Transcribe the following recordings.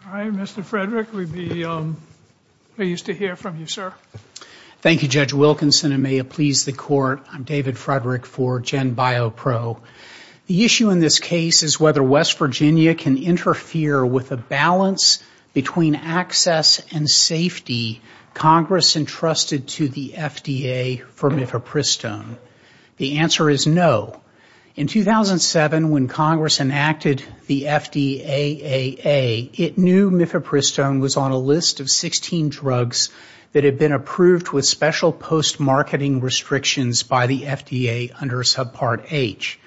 Hi, Mr. Frederick. We're pleased to hear from you, sir. Thank you, Judge Wilkinson, and may it please the Court, I'm David Frederick for GenBioPro. The issue in this case is whether West Virginia can interfere with the balance between access and safety Congress entrusted to the FDA for Mifepristone. The answer is no. In 2007, when Congress enacted the FDAAA, it knew Mifepristone was on a list of 16 drugs that had been approved with special post-marketing restrictions by the FDA under Subpart H.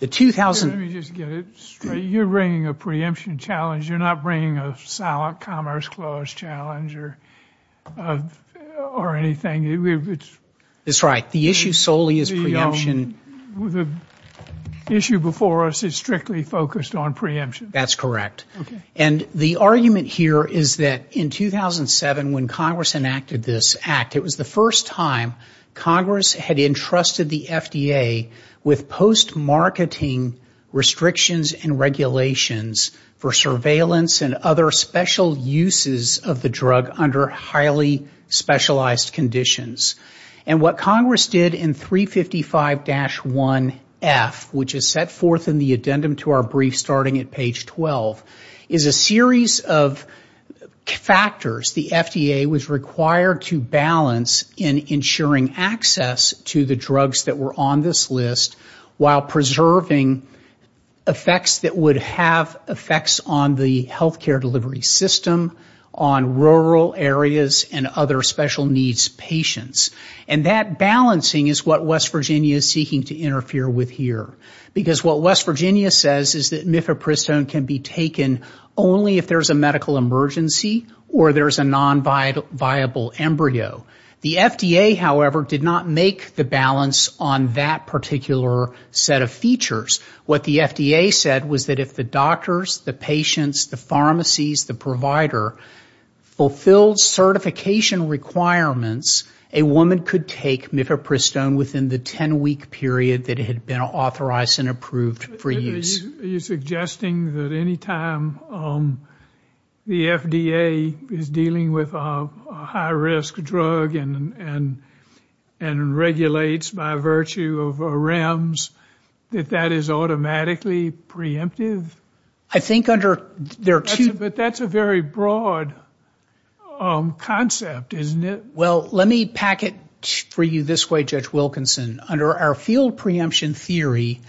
Let me just get it straight. You're bringing a preemption challenge. You're not bringing a silent commerce clause challenge or anything. That's right. The issue solely is preemption. The issue before us is strictly focused on preemption. That's correct. And the argument here is that in 2007, when Congress enacted this act, it was the first time Congress had entrusted the FDA with post-marketing restrictions and regulations for surveillance and other special uses of the drug under highly specialized conditions. And what Congress did in 355-1F, which is set forth in the addendum to our brief starting at page 12, is a series of factors the FDA was required to balance in ensuring access to the drugs that were on this list while preserving effects that would have effects on the healthcare delivery system, on rural areas and other special needs patients. And that balancing is what West Virginia is seeking to interfere with here. Because what West Virginia says is that Mifepristone can be taken only if there's a medical emergency or there's a non-viable embryo. The FDA, however, did not make the balance on that particular set of features. What the FDA said was that if the doctors, the patients, the pharmacies, the provider, fulfilled certification requirements, a woman could take Mifepristone within the 10-week period that it had been authorized and approved for use. Are you suggesting that any time the FDA is dealing with a high-risk drug and regulates by virtue of REMS, that that is automatically preemptive? I think under... But that's a very broad concept, isn't it? Well, let me pack it for you this way, Judge Wilkinson. Under our field preemption theory,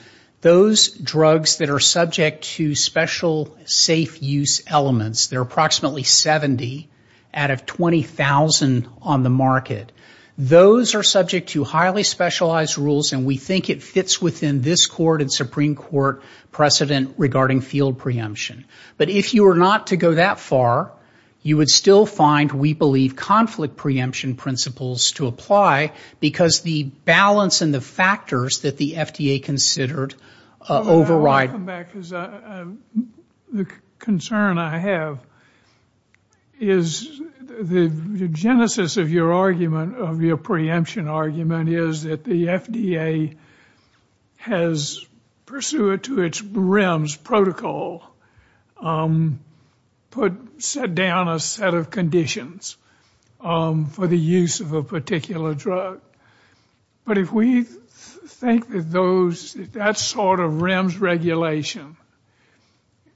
those drugs that are subject to special safe use elements, there are approximately 70 out of 20,000 on the market. Those are subject to highly specialized rules, and we think it fits within this court and Supreme Court precedent regarding field preemption. But if you were not to go that far, you would still find, we believe, conflict preemption principles to apply, because the balance and the factors that the FDA considered override... I'll come back, because the concern I have is the genesis of your argument, of your preemption argument, is that the FDA has, pursuant to its REMS protocol, set down a set of conditions for the use of a particular drug. But if we think that that sort of REMS regulation,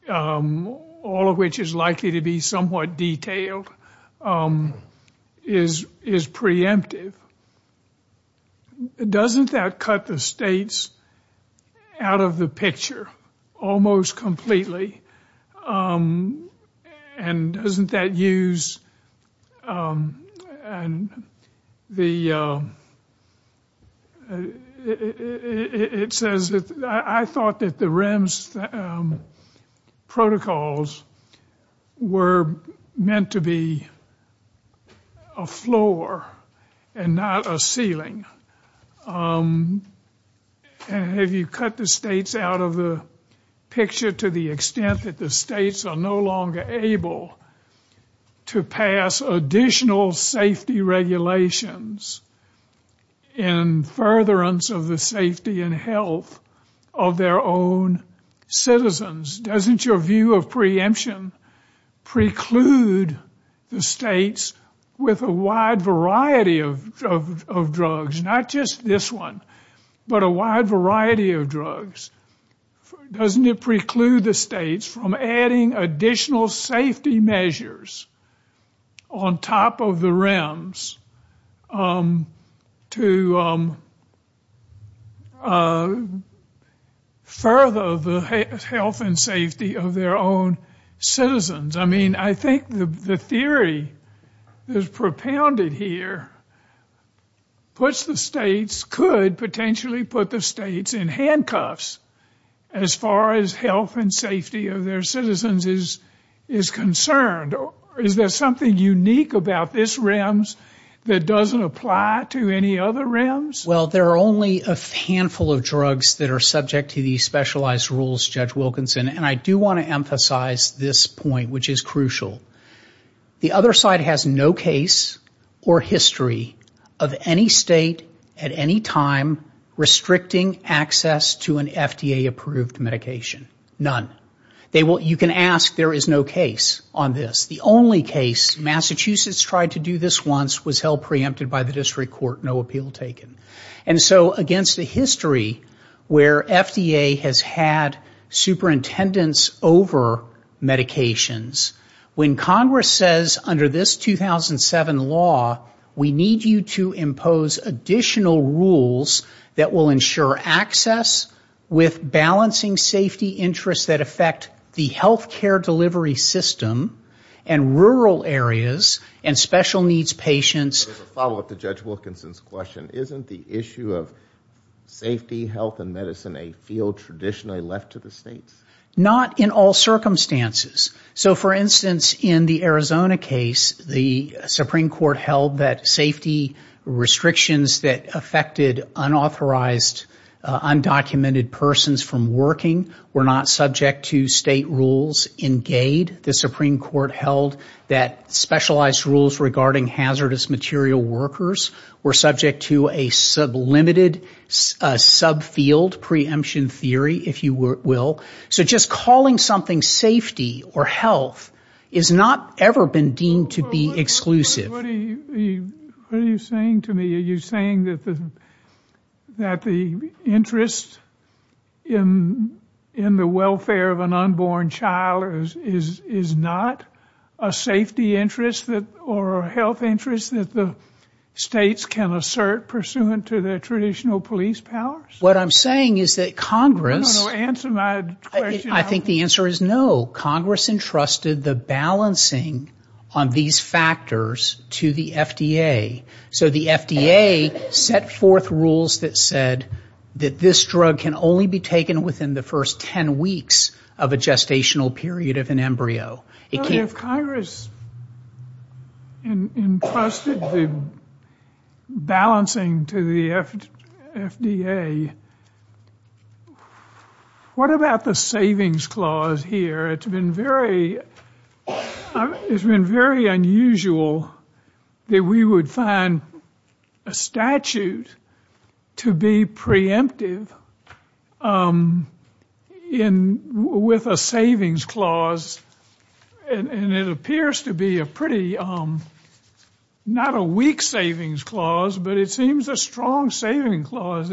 all of which is likely to be somewhat detailed, is preemptive, doesn't that cut the states out of the picture almost completely? And doesn't that use... And it says, I thought that the REMS protocols were meant to be a floor and not a ceiling. Have you cut the states out of the picture to the extent that the states are no longer able to pass additional safety regulations in furtherance of the safety and health of their own citizens? Doesn't your view of preemption preclude the states with a wide variety of drugs? Not just this one, but a wide variety of drugs. Doesn't it preclude the states from adding additional safety measures on top of the REMS to further the health and safety of their own citizens? I mean, I think the theory that's propounded here puts the states, could potentially put the states in handcuffs as far as health and safety of their citizens is concerned. Is there something unique about this REMS that doesn't apply to any other REMS? Well, there are only a handful of drugs that are subject to these specialized rules, Judge Wilkinson. And I do want to emphasize this point, which is crucial. The other side has no case or history of any state at any time restricting access to an FDA-approved medication. None. You can ask, there is no case on this. The only case, Massachusetts tried to do this once, was held preempted by the district court, no appeal taken. And so against a history where FDA has had superintendents over medications, when Congress says under this 2007 law, we need you to impose additional rules that will ensure access with balancing safety interests that affect the healthcare delivery system, and rural areas, and special needs patients. Follow up to Judge Wilkinson's question, isn't the issue of safety, health, and medicine a field traditionally left to the states? Not in all circumstances. So for instance, in the Arizona case, the Supreme Court held that safety restrictions that affected unauthorized, undocumented persons from working were not subject to state rules in GAID. The Supreme Court held that specialized rules regarding hazardous material workers were subject to a sublimated subfield preemption theory, if you will. So just calling something safety or health has not ever been deemed to be exclusive. What are you saying to me? Are you saying that the interest in the welfare of an unborn child is not a safety interest or a health interest that the states can assert pursuant to their traditional police powers? What I'm saying is that Congress... I think the answer is no. Congress entrusted the balancing on these factors to the FDA. So the FDA set forth rules that said that this drug can only be taken within the first 10 weeks of a gestational period of an embryo. Well, if Congress entrusted the balancing to the FDA, what about the savings clause here? It's been very unusual that we would find a statute to be preemptive with a savings clause. And it appears to be a pretty... not a weak savings clause, but it seems a strong savings clause.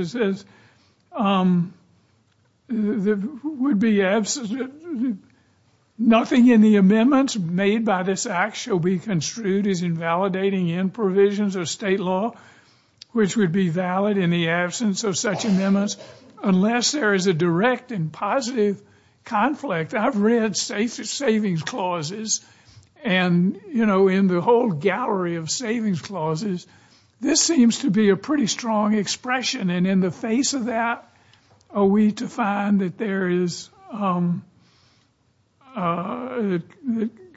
Nothing in the amendments made by this act shall be construed as invalidating any provisions of state law, which would be valid in the absence of such amendments, unless there is a direct and positive conflict. I've read savings clauses and, you know, in the whole gallery of savings clauses, this seems to be a pretty strong expression. And in the face of that, are we to find that there is...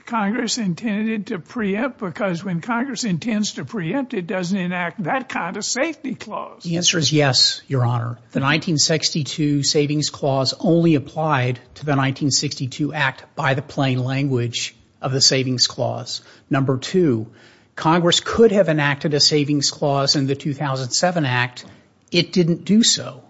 Congress intended to preempt, because when Congress intends to preempt, it doesn't enact that kind of safety clause. The answer is yes, Your Honor. The 1962 savings clause only applied to the 1962 act by the plain language of the savings clause. Number two, Congress could have enacted a savings clause in the 2007 act. It didn't do so.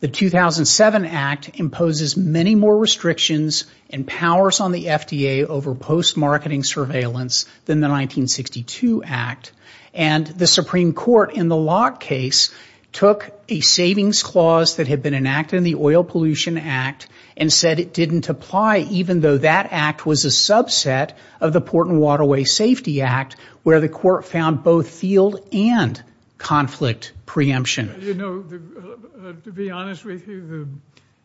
The 2007 act imposes many more restrictions and powers on the FDA over post-marketing surveillance than the 1962 act. And the Supreme Court, in the Locke case, took a savings clause that had been enacted in the Oil Pollution Act and said it didn't apply, even though that act was a subset of the Port and Waterway Safety Act, where the court found both field and conflict preemption. You know, to be honest with you,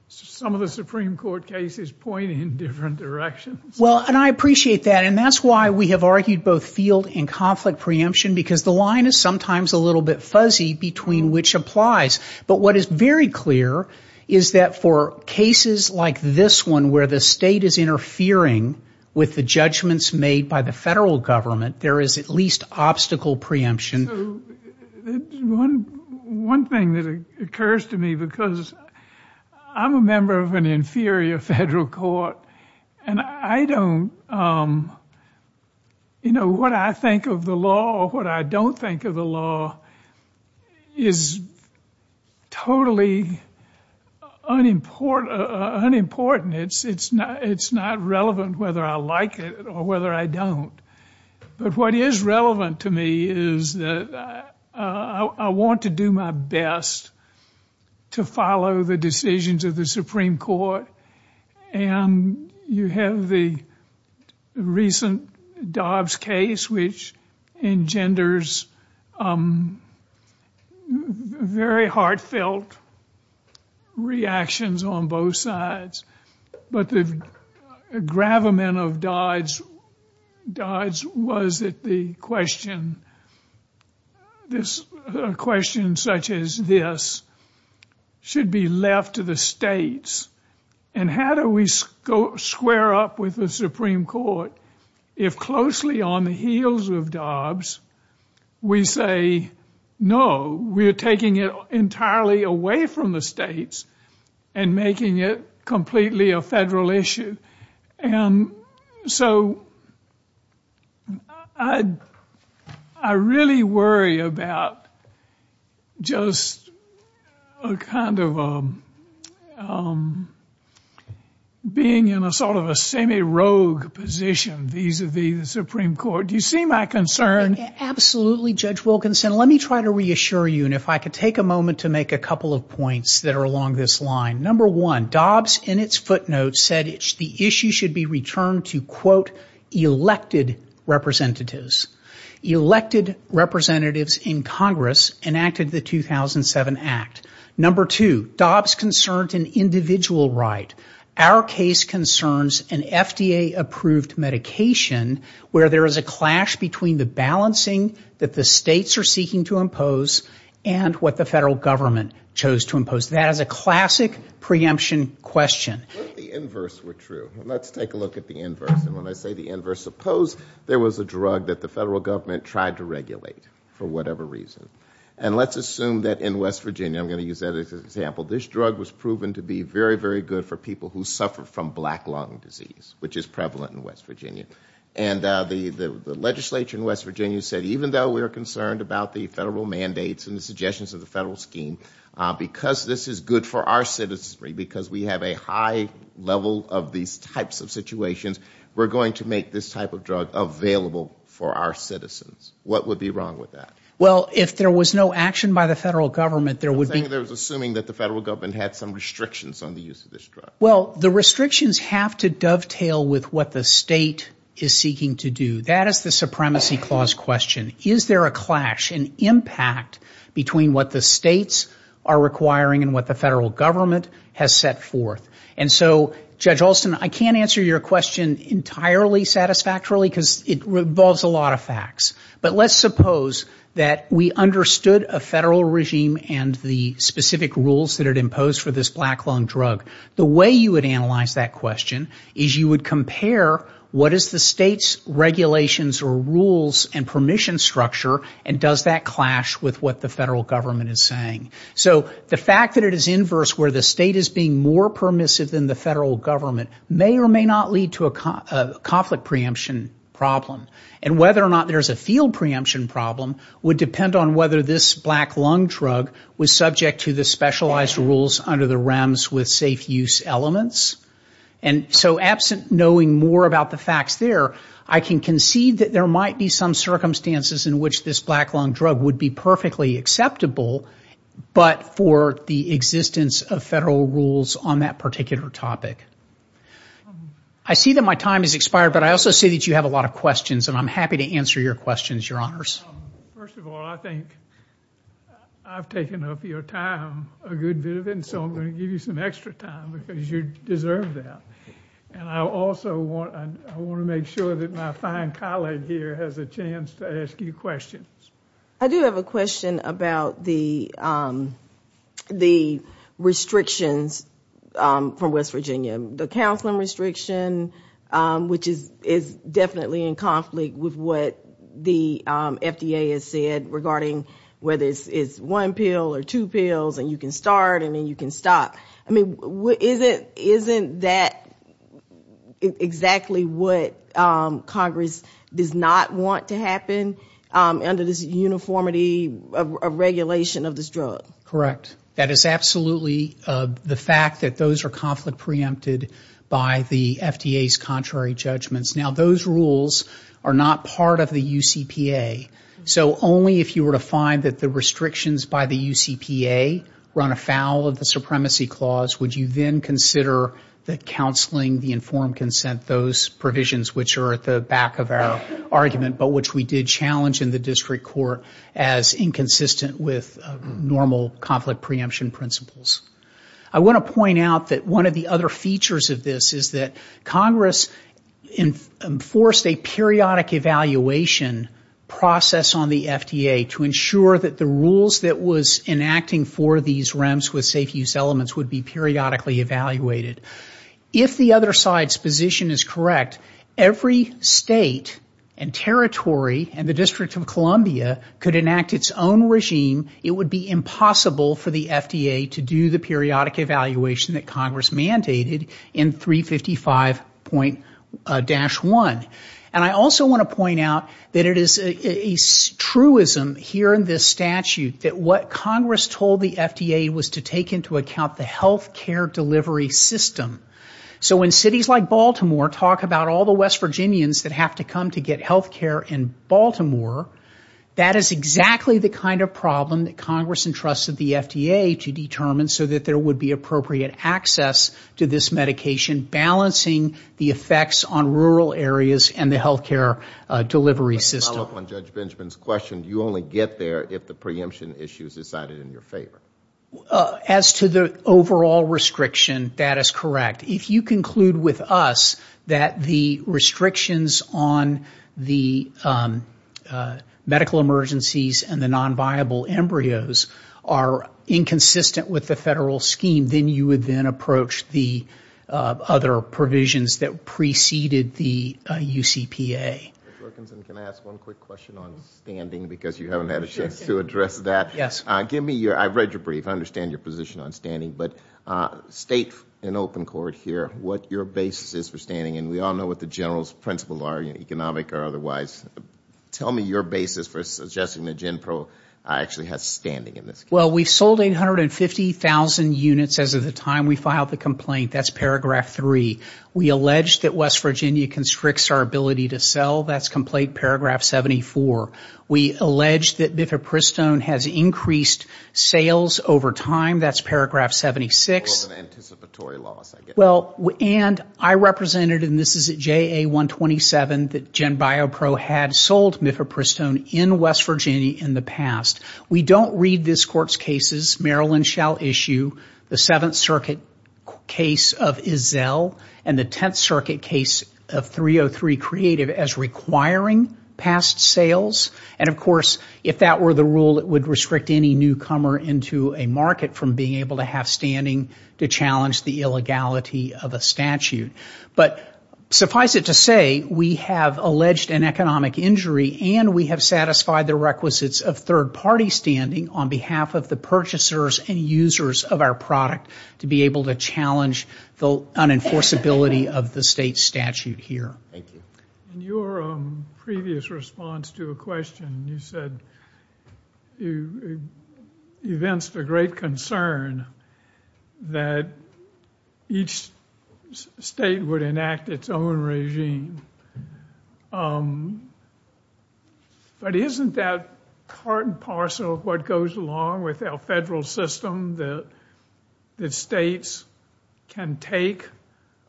some of the Supreme Court cases point in different directions. Well, and I appreciate that, and that's why we have argued both field and conflict preemption, because the line is sometimes a little bit fuzzy between which applies. But what is very clear is that for cases like this one, where the state is interfering with the judgments made by the federal government, there is at least obstacle preemption. One thing that occurs to me, because I'm a member of an inferior federal court, and I don't, you know, what I think of the law or what I don't think of the law is totally unimportant. It's not relevant whether I like it or whether I don't. But what is relevant to me is that I want to do my best to follow the decisions of the Supreme Court, and you have the recent Dobbs case, which engenders very heartfelt reactions on both sides. But the gravamen of Dobbs was that the question, a question such as this, should be left to the states. And how do we square up with the Supreme Court if closely on the heels of Dobbs we say, no, we're taking it entirely away from the states and making it completely a federal issue? And so I really worry about just a kind of being in a sort of a semi-rogue position vis-à-vis the Supreme Court. Do you see my concern? Absolutely, Judge Wilkinson. Let me try to reassure you, and if I could take a moment to make a couple of points that are along this line. Number one, Dobbs in its footnotes said the issue should be returned to, quote, elected representatives. Elected representatives in Congress enacted the 2007 Act. Number two, Dobbs concerned an individual right. Our case concerns an FDA-approved medication where there is a clash between the balancing that the states are seeking to impose and what the federal government chose to impose. That is a classic preemption question. Let's take a look at the inverse, and when I say the inverse, suppose there was a drug that the federal government tried to regulate for whatever reason. And let's assume that in West Virginia, I'm going to use that as an example, this drug was proven to be very, very good for people who suffer from black lung disease, which is prevalent in West Virginia. And the legislature in West Virginia said even though we are concerned about the federal mandates and the suggestions of the federal scheme, because this is good for our citizens, because we have a high level of these types of situations, we're going to make this type of drug available for our citizens. What would be wrong with that? Well, the restrictions have to dovetail with what the state is seeking to do. That is the supremacy clause question. Is there a clash, an impact between what the states are requiring and what the federal government has set forth? And so, Judge Alston, I can't answer your question entirely satisfactorily, because it involves a lot of facts. But let's suppose that we understood a federal regime and the specific rules that it imposed for this black lung drug. The way you would analyze that question is you would compare what is the state's regulations or rules and permission structure, and does that clash with what the federal government is saying. So the fact that it is inverse, where the state is being more permissive than the federal government, may or may not lead to a conflict preemption problem. And whether or not there's a field preemption problem would depend on whether this black lung drug was subject to the specialized rules under the REMS with safe use elements. And so absent knowing more about the facts there, I can concede that there might be some circumstances in which this black lung drug would be perfectly acceptable. But for the existence of federal rules on that particular topic. I see that my time has expired, but I also see that you have a lot of questions, and I'm happy to answer your questions, Your Honors. First of all, I think I've taken up your time a good bit of it, and so I'm going to give you some extra time, because you deserve that. And I also want to make sure that my fine colleague here has a chance to ask you questions. I do have a question about the restrictions from West Virginia. The counseling restriction, which is definitely in conflict with what the FDA has said regarding whether it's one pill or two pills, and you can start, and then you can stop. I mean, isn't that exactly what Congress does not want to happen under the federal rules? This uniformity of regulation of this drug? Correct. That is absolutely the fact that those are conflict preempted by the FDA's contrary judgments. Now, those rules are not part of the UCPA. So only if you were to find that the restrictions by the UCPA run afoul of the supremacy clause would you then consider the counseling, the informed consent, those provisions, which are at the back of our argument, but which we did challenge in the district court. As inconsistent with normal conflict preemption principles. I want to point out that one of the other features of this is that Congress enforced a periodic evaluation process on the FDA to ensure that the rules that was enacting for these REMS with safe use elements would be periodically evaluated. If the other side's position is correct, every state and territory and the District of Columbia has a safe use element. If the District of Columbia could enact its own regime, it would be impossible for the FDA to do the periodic evaluation that Congress mandated in 355.-1. And I also want to point out that it is a truism here in this statute that what Congress told the FDA was to take into account the health care delivery system. So when cities like Baltimore talk about all the West Virginians that have to come to get health care in Baltimore, that is not true. That is exactly the kind of problem that Congress entrusted the FDA to determine so that there would be appropriate access to this medication, balancing the effects on rural areas and the health care delivery system. Follow up on Judge Benjamin's question, you only get there if the preemption issue is decided in your favor. As to the overall restriction, that is correct. If you conclude with us that the restrictions on the medical emergencies and the non-viable embryos are inconsistent with the federal scheme, then you would then approach the other provisions that preceded the UCPA. Judge Wilkinson, can I ask one quick question on standing because you haven't had a chance to address that? Yes. I have read your brief and I understand your position on standing, but state in open court here what your basis is for standing and we all know what the general principles are, economic or otherwise. Tell me your basis for suggesting that GenPro actually has standing in this case. Well, we sold 850,000 units as of the time we filed the complaint. That is paragraph 3. We allege that West Virginia constricts our ability to sell. That is complaint paragraph 74. We allege that Mifepristone has increased sales over time. That is paragraph 76. It was an anticipatory loss. And I represented, and this is at JA 127, that GenBioPro had sold Mifepristone in West Virginia in the past. We don't read this Court's cases, Maryland shall issue, the Seventh Circuit case of Izell and the Tenth Circuit case of 303 Creative as requiring past sales. And of course, if that were the rule, it would restrict any newcomer into a market from being able to have standing to challenge the illegality of a statute. But suffice it to say, we have alleged an economic injury and we have satisfied the requisites of third party standing on behalf of the purchasers and users of our product to be able to challenge the unenforceability of the state statute here. Thank you. In your previous response to a question, you said you evinced a great concern that each state would enact its own regime. But isn't that part and parcel of what goes along with our federal system, that states can take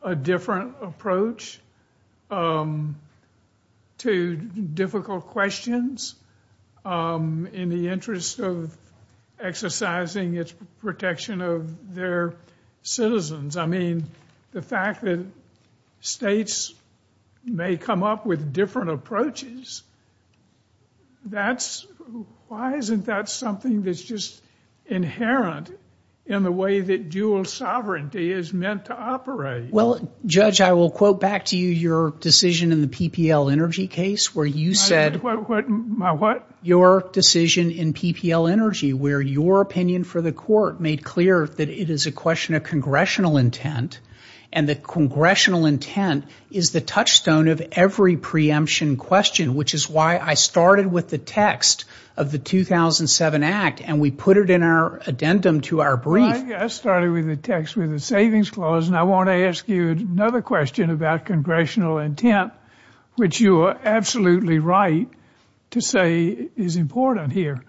a different approach? To difficult questions in the interest of exercising its protection of their citizens. I mean, the fact that states may come up with different approaches, that's, why isn't that something that's just inherent in the way that dual sovereignty is meant to operate? Well, Judge, I will quote back to you your decision in the PPL Energy case where you said... My what? Your decision in PPL Energy where your opinion for the court made clear that it is a question of congressional intent and that congressional intent is the touchstone of every preemption question, which is why I started with the text of the 2007 Act and we put it in our addendum to our brief. I started with the text with the savings clause and I want to ask you another question about congressional intent, which you are absolutely right to say is important here.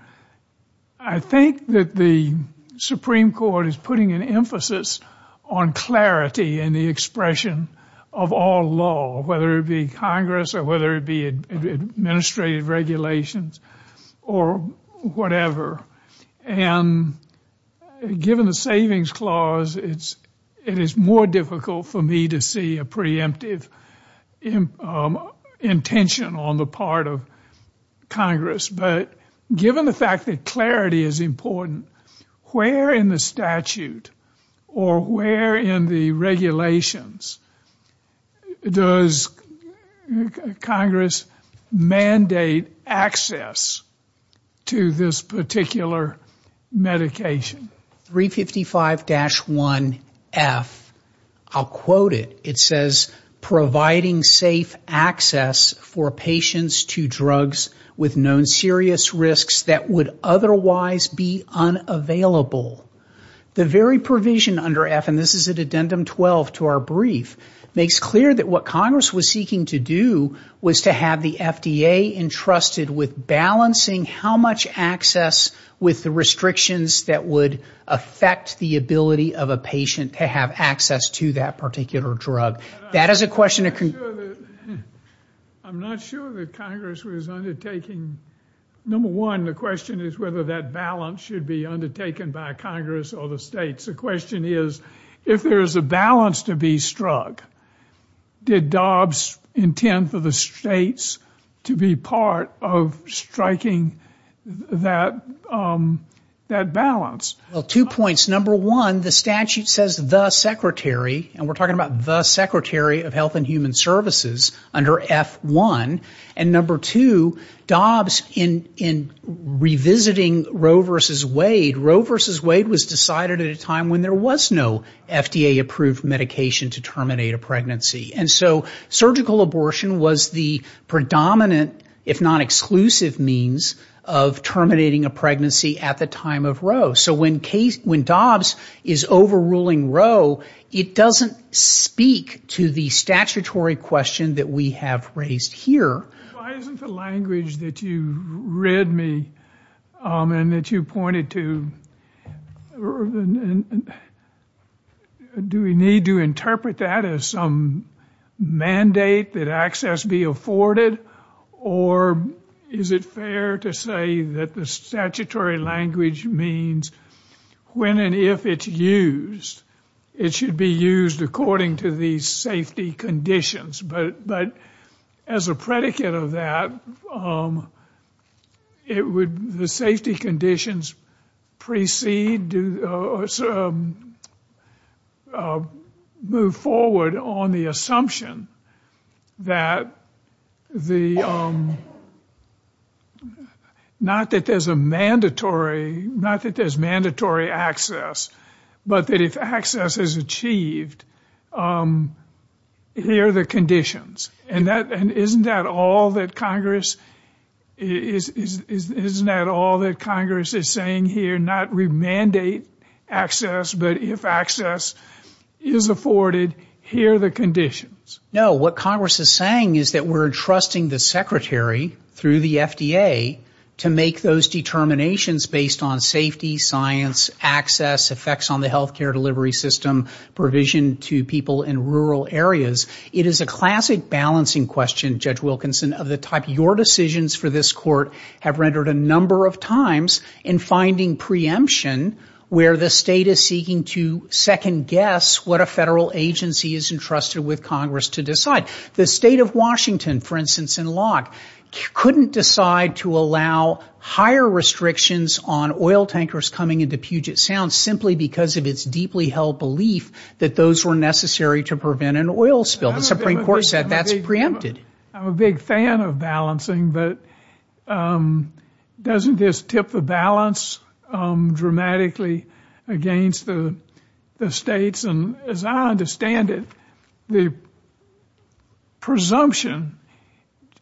I think that the Supreme Court is putting an emphasis on clarity and the expression of all law, whether it be Congress or whether it be administrative regulations or whatever. And given the savings clause, it is more difficult for me to see a preemptive intention on the part of Congress. But given the fact that clarity is important, where in the statute or where in the regulations does Congress mandate access to this particular clause? Where in the regulations does Congress mandate access to this particular medication? 355-1F, I will quote it. It says, providing safe access for patients to drugs with known serious risks that would otherwise be unavailable. The very provision under F, and this is addendum 12 to our brief, makes clear that what Congress was seeking to do was to have the FDA entrusted with balancing how much access was available to patients with known serious risks. With the restrictions that would affect the ability of a patient to have access to that particular drug. That is a question that... I'm not sure that Congress was undertaking... Number one, the question is whether that balance should be undertaken by Congress or the states. The question is, if there is a balance to be struck, did Dobbs intend for the states to be part of striking that balance? Two points. Number one, the statute says the secretary, and we're talking about the secretary of health and human services under F1. And number two, Dobbs in revisiting Roe versus Wade, Roe versus Wade was decided at a time when there was no FDA approved medication to terminate a pregnancy. And so surgical abortion was the predominant, if not exclusive, means of terminating a pregnancy. At the time of Roe, so when Dobbs is overruling Roe, it doesn't speak to the statutory question that we have raised here. Why isn't the language that you read me, and that you pointed to, do we need to interpret that as some mandate that access be afforded? Or is it fair to say that the statutory language means when and if it's used, it should be used according to the safety conditions? But as a predicate of that, it would... The safety conditions precede... Move forward on the assumption that the... Not that there's a mandatory, not that there's mandatory access, but that if access is achieved, here are the conditions. And isn't that all that Congress is saying here, not remandate access, but if access is afforded, here are the conditions? No, what Congress is saying is that we're entrusting the secretary through the FDA to make those determinations based on safety, science, access, effects on the healthcare delivery system, provision to people in rural areas. It is a classic balancing question, Judge Wilkinson, of the type your decisions for this court have rendered a number of times in finding preemption where the state is seeking to second guess what a federal agency is entrusted with Congress. The state of Washington, for instance, in Locke, couldn't decide to allow higher restrictions on oil tankers coming into Puget Sound simply because of its deeply held belief that those were necessary to prevent an oil spill. The Supreme Court said that's preempted. I'm a big fan of balancing, but doesn't this tip the balance dramatically against the states? Judge Wilkinson, as I understand it, the presumption,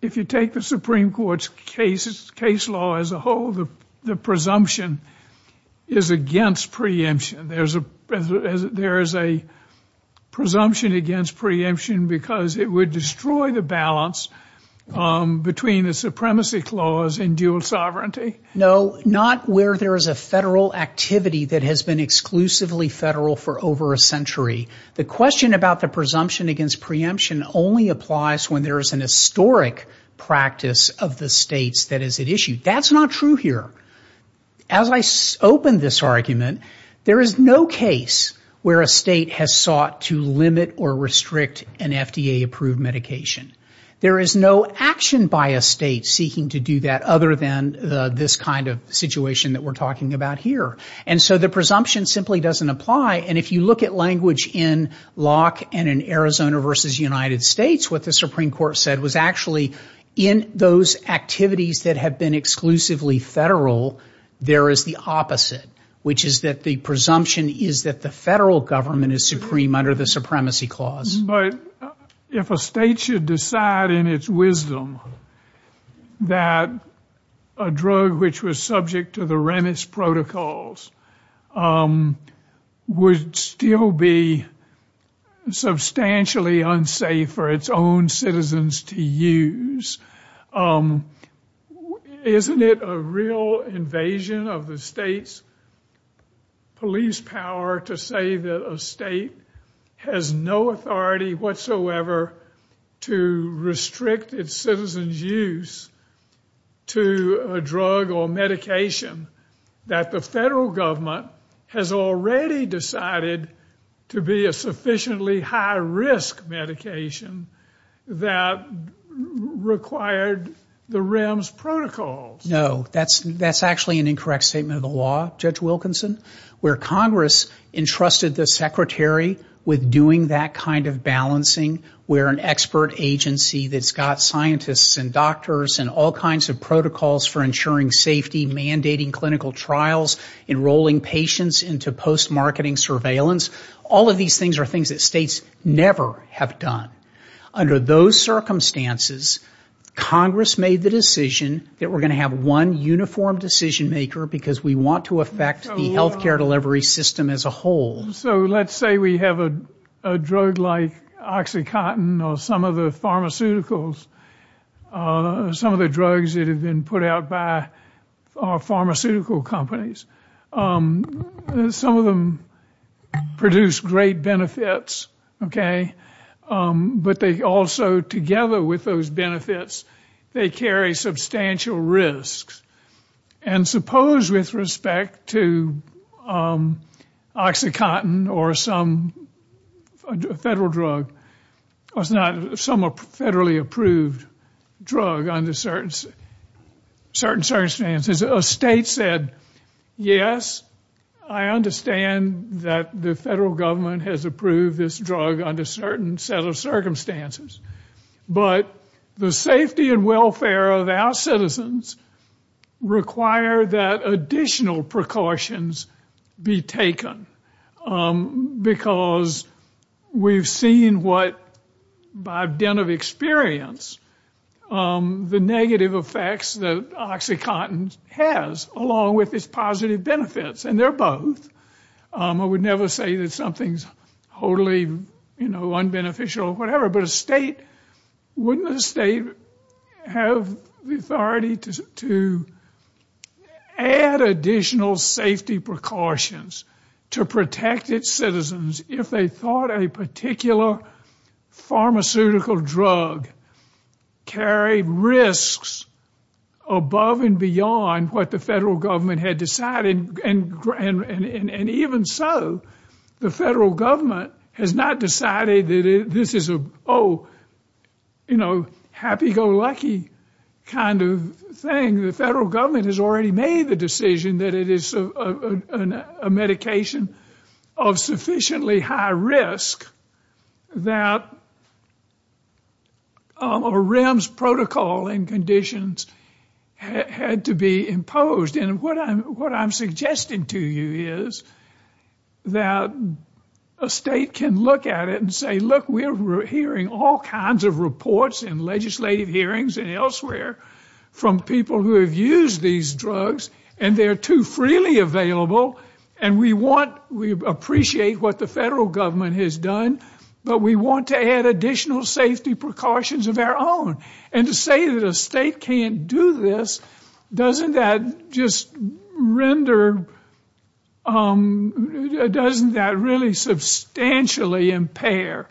if you take the Supreme Court's case law as a whole, the presumption is against preemption. There is a presumption against preemption because it would destroy the balance between the supremacy clause and dual sovereignty. No, not where there is a federal activity that has been exclusively federal for over a century. The question about the presumption against preemption only applies when there is an historic practice of the states that is at issue. That's not true here. As I open this argument, there is no case where a state has sought to limit or restrict an FDA-approved medication. There is no action by a state seeking to do that other than this kind of situation that we're talking about here. The presumption simply doesn't apply. If you look at language in Locke and in Arizona v. United States, what the Supreme Court said was actually in those activities that have been exclusively federal, there is the opposite, which is that the presumption is that the federal government is supreme under the supremacy clause. But if a state should decide in its wisdom that a drug which was subject to the Remitz protocol is not a drug that is subject to the supremacy clause, then that's a presumption. But if a state should decide in its wisdom that a drug which was subject to the Remitz protocols would still be substantially unsafe for its own citizens to use, isn't it a real invasion of the state's police power to say that a state has no authority whatsoever to restrict its citizens' use to a drug or medication that the federal government has no authority to use? The federal government has already decided to be a sufficiently high-risk medication that required the Remitz protocols. No, that's actually an incorrect statement of the law, Judge Wilkinson. Where Congress entrusted the Secretary with doing that kind of balancing, where an expert agency that's got scientists and doctors and all kinds of protocols for ensuring safety, mandating clinical trials, enrolling people in clinical trials, that's not the case. Enrolling patients into post-marketing surveillance, all of these things are things that states never have done. Under those circumstances, Congress made the decision that we're going to have one uniform decision-maker because we want to affect the healthcare delivery system as a whole. So let's say we have a drug like OxyContin or some of the pharmaceuticals, some of the drugs that have been put out by pharmaceutical companies. Some of them produce great benefits, okay? But they also, together with those benefits, they carry substantial risks. And suppose, with respect to OxyContin or some federal drug, or some federally approved drug under certain circumstances, a state said, yes, we're going to have one uniform decision-maker. I understand that the federal government has approved this drug under a certain set of circumstances. But the safety and welfare of our citizens require that additional precautions be taken because we've seen what, by a dent of experience, the negative effects that OxyContin has, along with its positive benefits. And they're both. I would never say that something's wholly, you know, unbeneficial or whatever. But a state, wouldn't a state have the authority to add additional safety precautions to protect its citizens if they thought a particular pharmaceutical drug carried risks above and beyond what the federal government had decided? And even so, the federal government has not decided that this is a, oh, you know, happy-go-lucky kind of thing. The federal government has already made the decision that it is a medication of sufficiently high risk that a REMS protocol and conditions had to be imposed. And what I'm suggesting to you is that a state can look at it and say, look, we're hearing all kinds of reports in legislative hearings and elsewhere from people who have used these drugs, and they're too freely available. And we want, we appreciate what the federal government has done, but we want to add additional safety precautions of our own. And to say that a state can't do this, doesn't that just render, doesn't that really substantially impair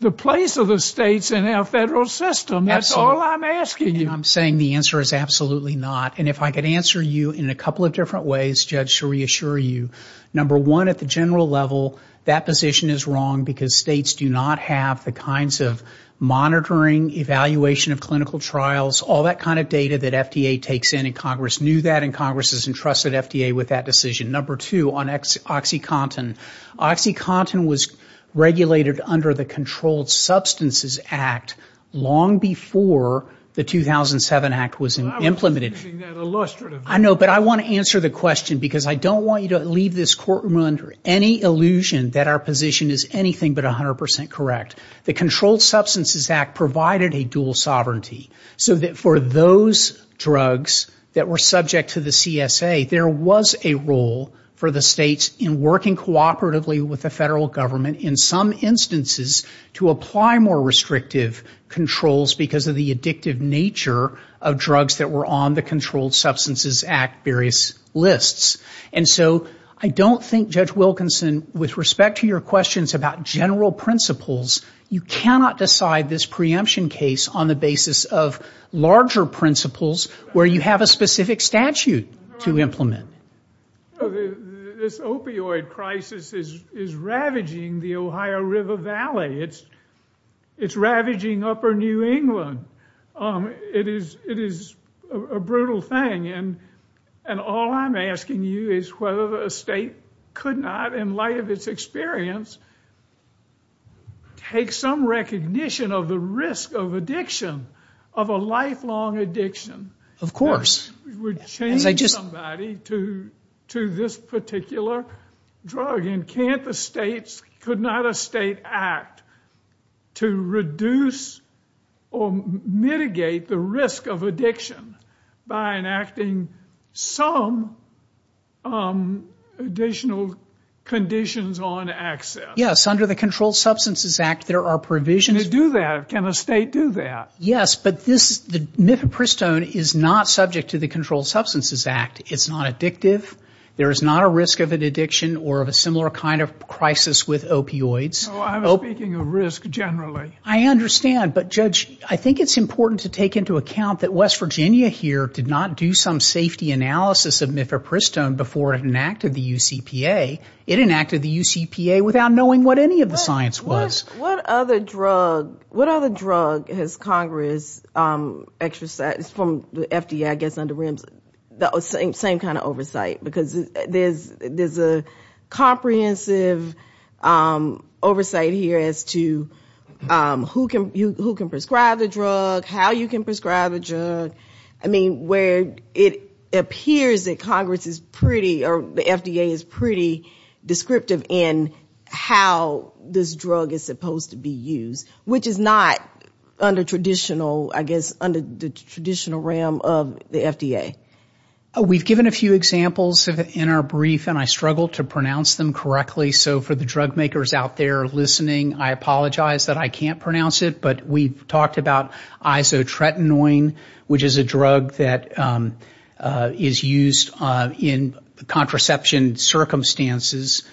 the place of the states in our federal system? That's all I'm asking you. I'm saying the answer is absolutely not. And if I could answer you in a couple of different ways, Judge, to reassure you. Number one, at the general level, that position is wrong because states do not have the kinds of monitoring, evaluation, evaluation, and monitoring that we have. We don't have the kinds of clinical trials, all that kind of data that FDA takes in, and Congress knew that, and Congress has entrusted FDA with that decision. Number two, on OxyContin. OxyContin was regulated under the Controlled Substances Act long before the 2007 Act was implemented. I know, but I want to answer the question because I don't want you to leave this courtroom under any illusion that our position is anything but 100% correct. The Controlled Substances Act provided a dual sovereignty, so that for those drugs that were subject to the CSA, there was a role for the states in working cooperatively with the federal government, in some instances, to apply more restrictive controls because of the addictive nature of drugs that were on the Controlled Substances Act various lists. And so I don't think, Judge Wilkinson, with respect to your questions about general principles, that OxyContin was a dual sovereignty. You cannot decide this preemption case on the basis of larger principles where you have a specific statute to implement. This opioid crisis is ravaging the Ohio River Valley. It's ravaging upper New England. It is a brutal thing, and all I'm asking you is whether a state could not, in light of its experience, take a step back and say, well, this is what we're doing. And take some recognition of the risk of addiction, of a lifelong addiction. Of course. It would change somebody to this particular drug. And can't the states, could not a state act to reduce or mitigate the risk of addiction by enacting some additional conditions on access? Yes, under the Controlled Substances Act, there are provisions. Can it do that? Can a state do that? Yes. But this, Mifepristone is not subject to the Controlled Substances Act. It's not addictive. There is not a risk of an addiction or of a similar kind of crisis with opioids. No, I'm speaking of risk generally. I understand. But, Judge, I think it's important to take into account that West Virginia here did not do some safety analysis of Mifepristone before it enacted the UCPA. It enacted the UCPA without knowing what any of the science was. What other drug has Congress exercised, from the FDA, I guess, under RIMS, the same kind of oversight? Because there's a comprehensive oversight here as to who can prescribe the drug, how you can prescribe the drug. I mean, where it appears that Congress is pretty, or the FDA is pretty, about the use of Mifepristone. But it's not very descriptive in how this drug is supposed to be used, which is not under traditional, I guess, under the traditional realm of the FDA. We've given a few examples in our brief, and I struggled to pronounce them correctly. So for the drug makers out there listening, I apologize that I can't pronounce it. But we've talked about isotretinoin, which is a drug that is used in contraception circumstances.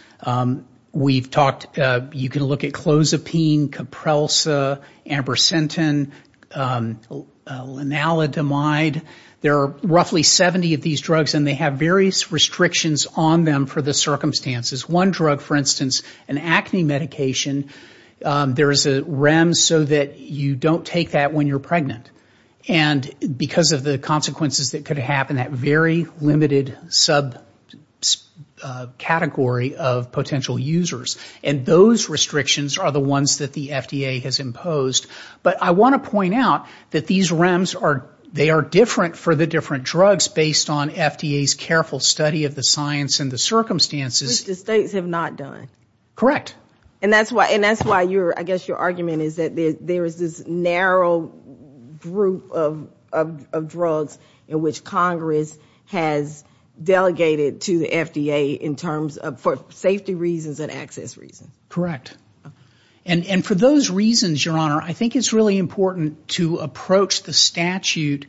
We've talked, you can look at Clozapine, Kaprelsa, Ambrosentin, Lanalidomide. There are roughly 70 of these drugs, and they have various restrictions on them for the circumstances. One drug, for instance, an acne medication, there is a REM so that you don't take that when you're pregnant. And because of the consequences that could happen, that very limited subcategory of medication, that very limited subcategory of potential users. And those restrictions are the ones that the FDA has imposed. But I want to point out that these REMs are, they are different for the different drugs, based on FDA's careful study of the science and the circumstances. Which the states have not done. Correct. And that's why, I guess, your argument is that there is this narrow group of drugs in which Congress has delegated to the FDA in terms of, for example, Mifepristone. For safety reasons and access reasons. And for those reasons, your Honor, I think it's really important to approach the statute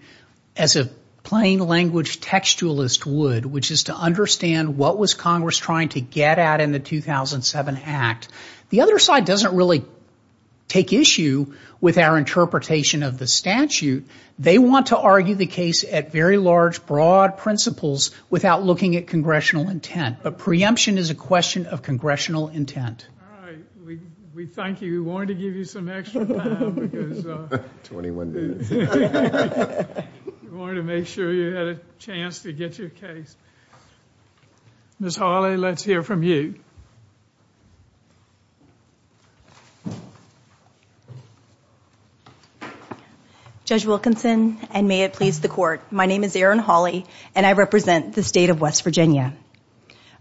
as a plain language textualist would. Which is to understand what was Congress trying to get at in the 2007 Act. The other side doesn't really take issue with our interpretation of the statute. They want to argue the case at very large, broad principles without looking at congressional intent. But preemption is a question of congressional intent. All right, we thank you. We wanted to give you some extra time. 21 days. We wanted to make sure you had a chance to get your case. Ms. Hawley, let's hear from you. Judge Wilkinson, and may it please the Court. My name is Erin Hawley, and I represent the state of West Virginia.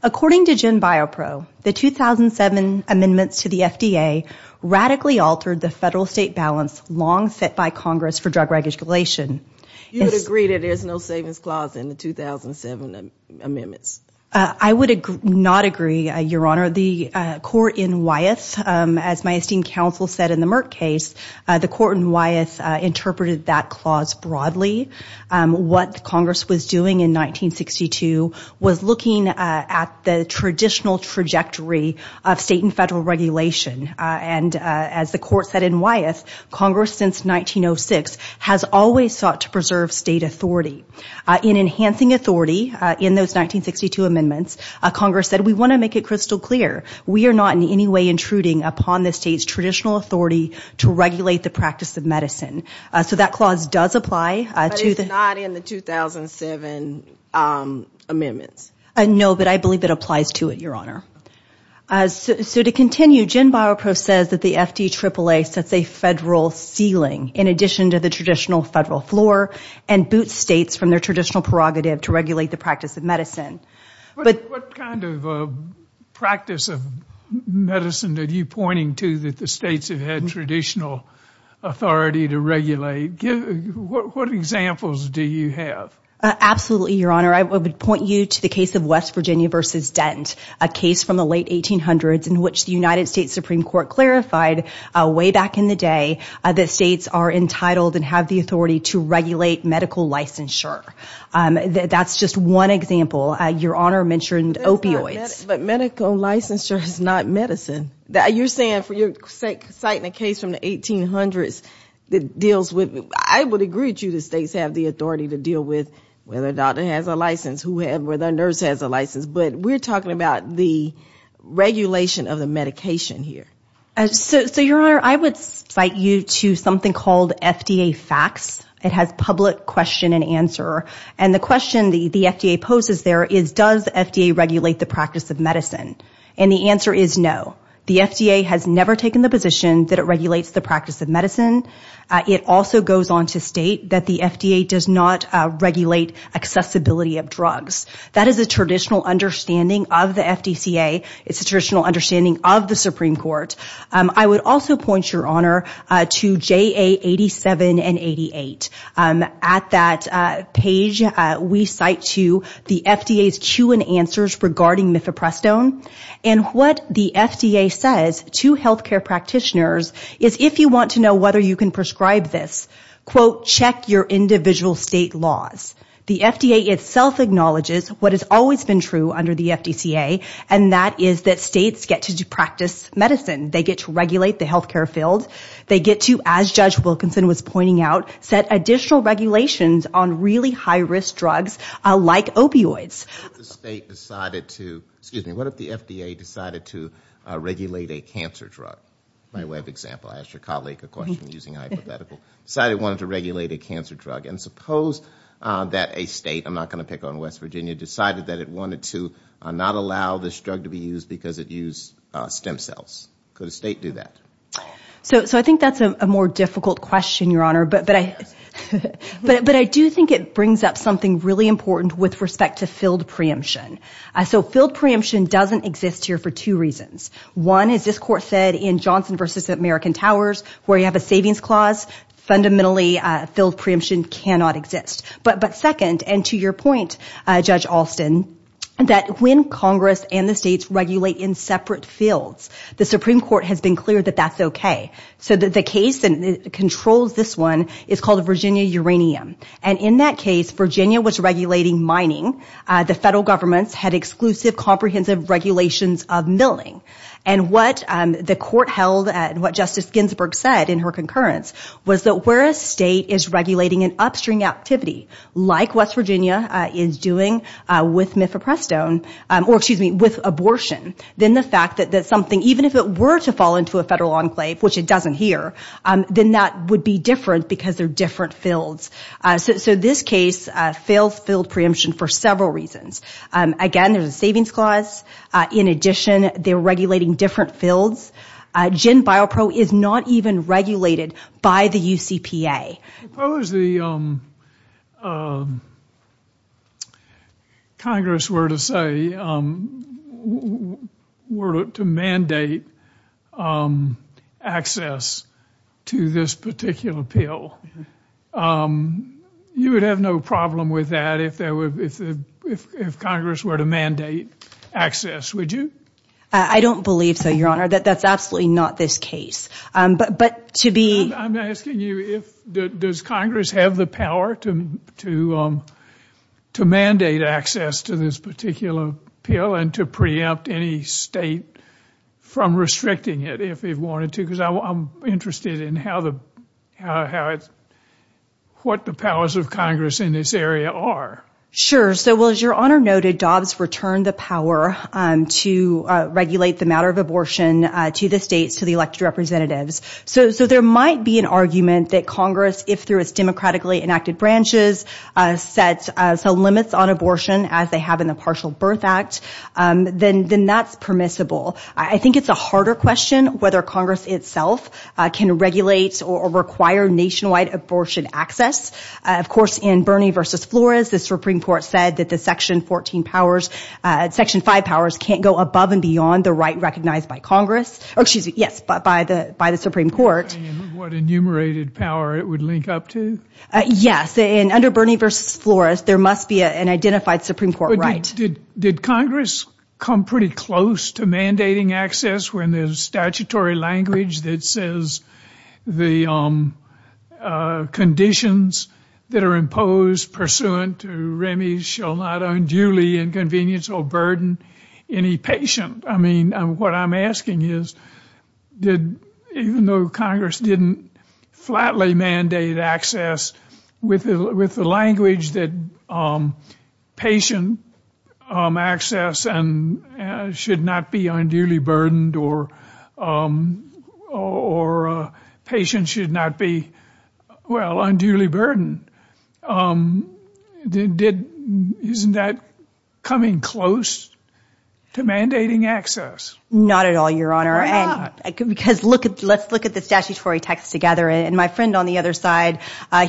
According to GenBioPro, the 2007 amendments to the FDA radically altered the federal-state balance long set by Congress for drug regulation. You would agree that there's no savings clause in the 2007 amendments? I would not agree, your Honor. The court in Wyeth, as my esteemed counsel said in the Merck case, the court in Wyeth interpreted that clause broadly. What Congress was doing in 1962 was looking at the drug regulation. It was looking at the traditional trajectory of state and federal regulation. And as the court said in Wyeth, Congress since 1906 has always sought to preserve state authority. In enhancing authority in those 1962 amendments, Congress said, we want to make it crystal clear. We are not in any way intruding upon the state's traditional authority to regulate the practice of medicine. So that clause does apply to the... But it's not in the 2007 amendments? No, but I believe it applies to it, your Honor. So to continue, GenBioPro says that the FDAAA sets a federal ceiling in addition to the traditional federal floor and boots states from their traditional prerogative to regulate the practice of medicine. What kind of practice of medicine are you pointing to that the states have had traditional authority to regulate? What examples do you have? Absolutely, your Honor. I would point you to the case of West Virginia v. Dent. A case from the late 1800s in which the United States Supreme Court clarified way back in the day that states are entitled and have the authority to regulate medical licensure. That's just one example. Your Honor mentioned opioids. But medical licensure is not medicine. You're saying, citing a case from the 1800s that deals with... I would agree with you that states have the authority to deal with whether a doctor has a license, whether a nurse has a license, but we're talking about the regulation of the medication here. So, your Honor, I would cite you to something called FDA FACTS. It has public question and answer. And the question the FDA poses there is, does FDA regulate the practice of medicine? And the answer is no. The FDA has never taken the position that it regulates the practice of medicine. It also goes on to state that the FDA does not regulate accessibility of drugs. That is a traditional understanding of the FDCA. It's a traditional understanding of the Supreme Court. I would also point, your Honor, to JA 87 and 88. At that page, we cite to the FDA's cue and answers regarding Mifeprestone. And what the FDA says to healthcare practitioners is, if you want to know whether you can prescribe this, quote, check your individual state laws. The FDA itself acknowledges what has always been true under the FDCA, and that is that states get to practice medicine. They get to regulate the healthcare field. They get to, as Judge Wilkinson was pointing out, set additional regulations on really high-risk drugs like opioids. What if the state decided to... Excuse me, what if the FDA decided to regulate a cancer drug? My web example, I asked your colleague a question using hypothetical. Decided it wanted to regulate a cancer drug. And suppose that a state, I'm not going to pick on West Virginia, decided that it wanted to not allow this drug to be used because it used stem cells. Could a state do that? So I think that's a more difficult question, your Honor. But I do think it brings up something really important with respect to filled preemption. So filled preemption doesn't exist here for two reasons. One, as this Court said in Johnson v. American Towers, where you have a savings clause, fundamentally filled preemption cannot exist. But second, and to your point, Judge Alston, that when Congress and the states regulate in separate fields, the Supreme Court has been clear that that's okay. So the case that controls this one is called Virginia Uranium. And in that case, Virginia was regulating mining. The federal governments had exclusive, comprehensive regulations of milling. And what the Court held, and what Justice Ginsburg said in her concurrence, was that where a state is regulating an upstream activity, like West Virginia is doing with Mifeprestone, or excuse me, with abortion, then the fact that something, even if it were to fall into a federal enclave, which it doesn't here, then that would be different because they're different fields. So this case fails filled preemption for several reasons. Again, there's a savings clause. In addition, they're regulating different fields. GenBioPro is not even regulated by the UCPA. Suppose the Congress were to say, were to mandate access to this particular pill. You would have no problem with that if Congress were to mandate access, would you? I don't believe so, Your Honor. That's absolutely not this case. I'm asking you, does Congress have the power to mandate access to this particular pill and to preempt any state from restricting it if it wanted to? Because I'm interested in what the powers of Congress in this area are. Sure, so as Your Honor noted, Dobbs returned the power to regulate the matter of abortion to the states, to the elected representatives. So there might be an argument that Congress, if through its democratically enacted branches, sets limits on abortion as they have in the Partial Birth Act, then that's permissible. I think it's a harder question whether Congress itself can regulate or require nationwide abortion access. Of course, in Bernie v. Flores, the Supreme Court said that the Section 5 powers can't go above and beyond the right recognized by Congress, excuse me, yes, by the Supreme Court. What enumerated power it would link up to? Yes, and under Bernie v. Flores, there must be an identified Supreme Court right. Did Congress come pretty close to mandating access when there's statutory language that says the conditions that are imposed pursuant to Remy's shall not unduly inconvenience or burden any patient? I mean, what I'm asking is, even though Congress didn't flatly mandate access with the language that patient access should not be unduly burdened or patient should not be, well, unduly burdened, isn't that coming close to mandating access? Not at all, Your Honor. Let's look at the statutory text together. My friend on the other side,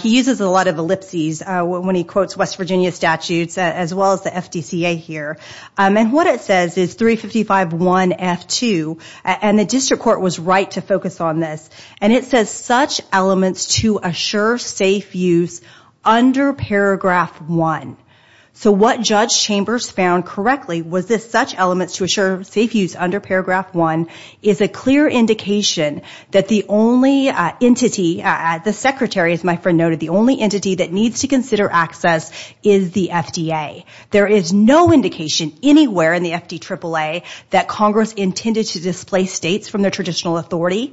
he uses a lot of ellipses when he quotes West Virginia statutes as well as the FDCA here. And what it says is 355.1.F.2. And the district court was right to focus on this. And it says, such elements to assure safe use under paragraph 1. So what Judge Chambers found correctly was that such elements to assure safe use under paragraph 1 is a clear indication that the only entity, the secretary, as my friend noted, the only entity that needs to consider access is the FDA. There is no indication anywhere in the FDAAA that Congress intended to displace states from their traditional authority.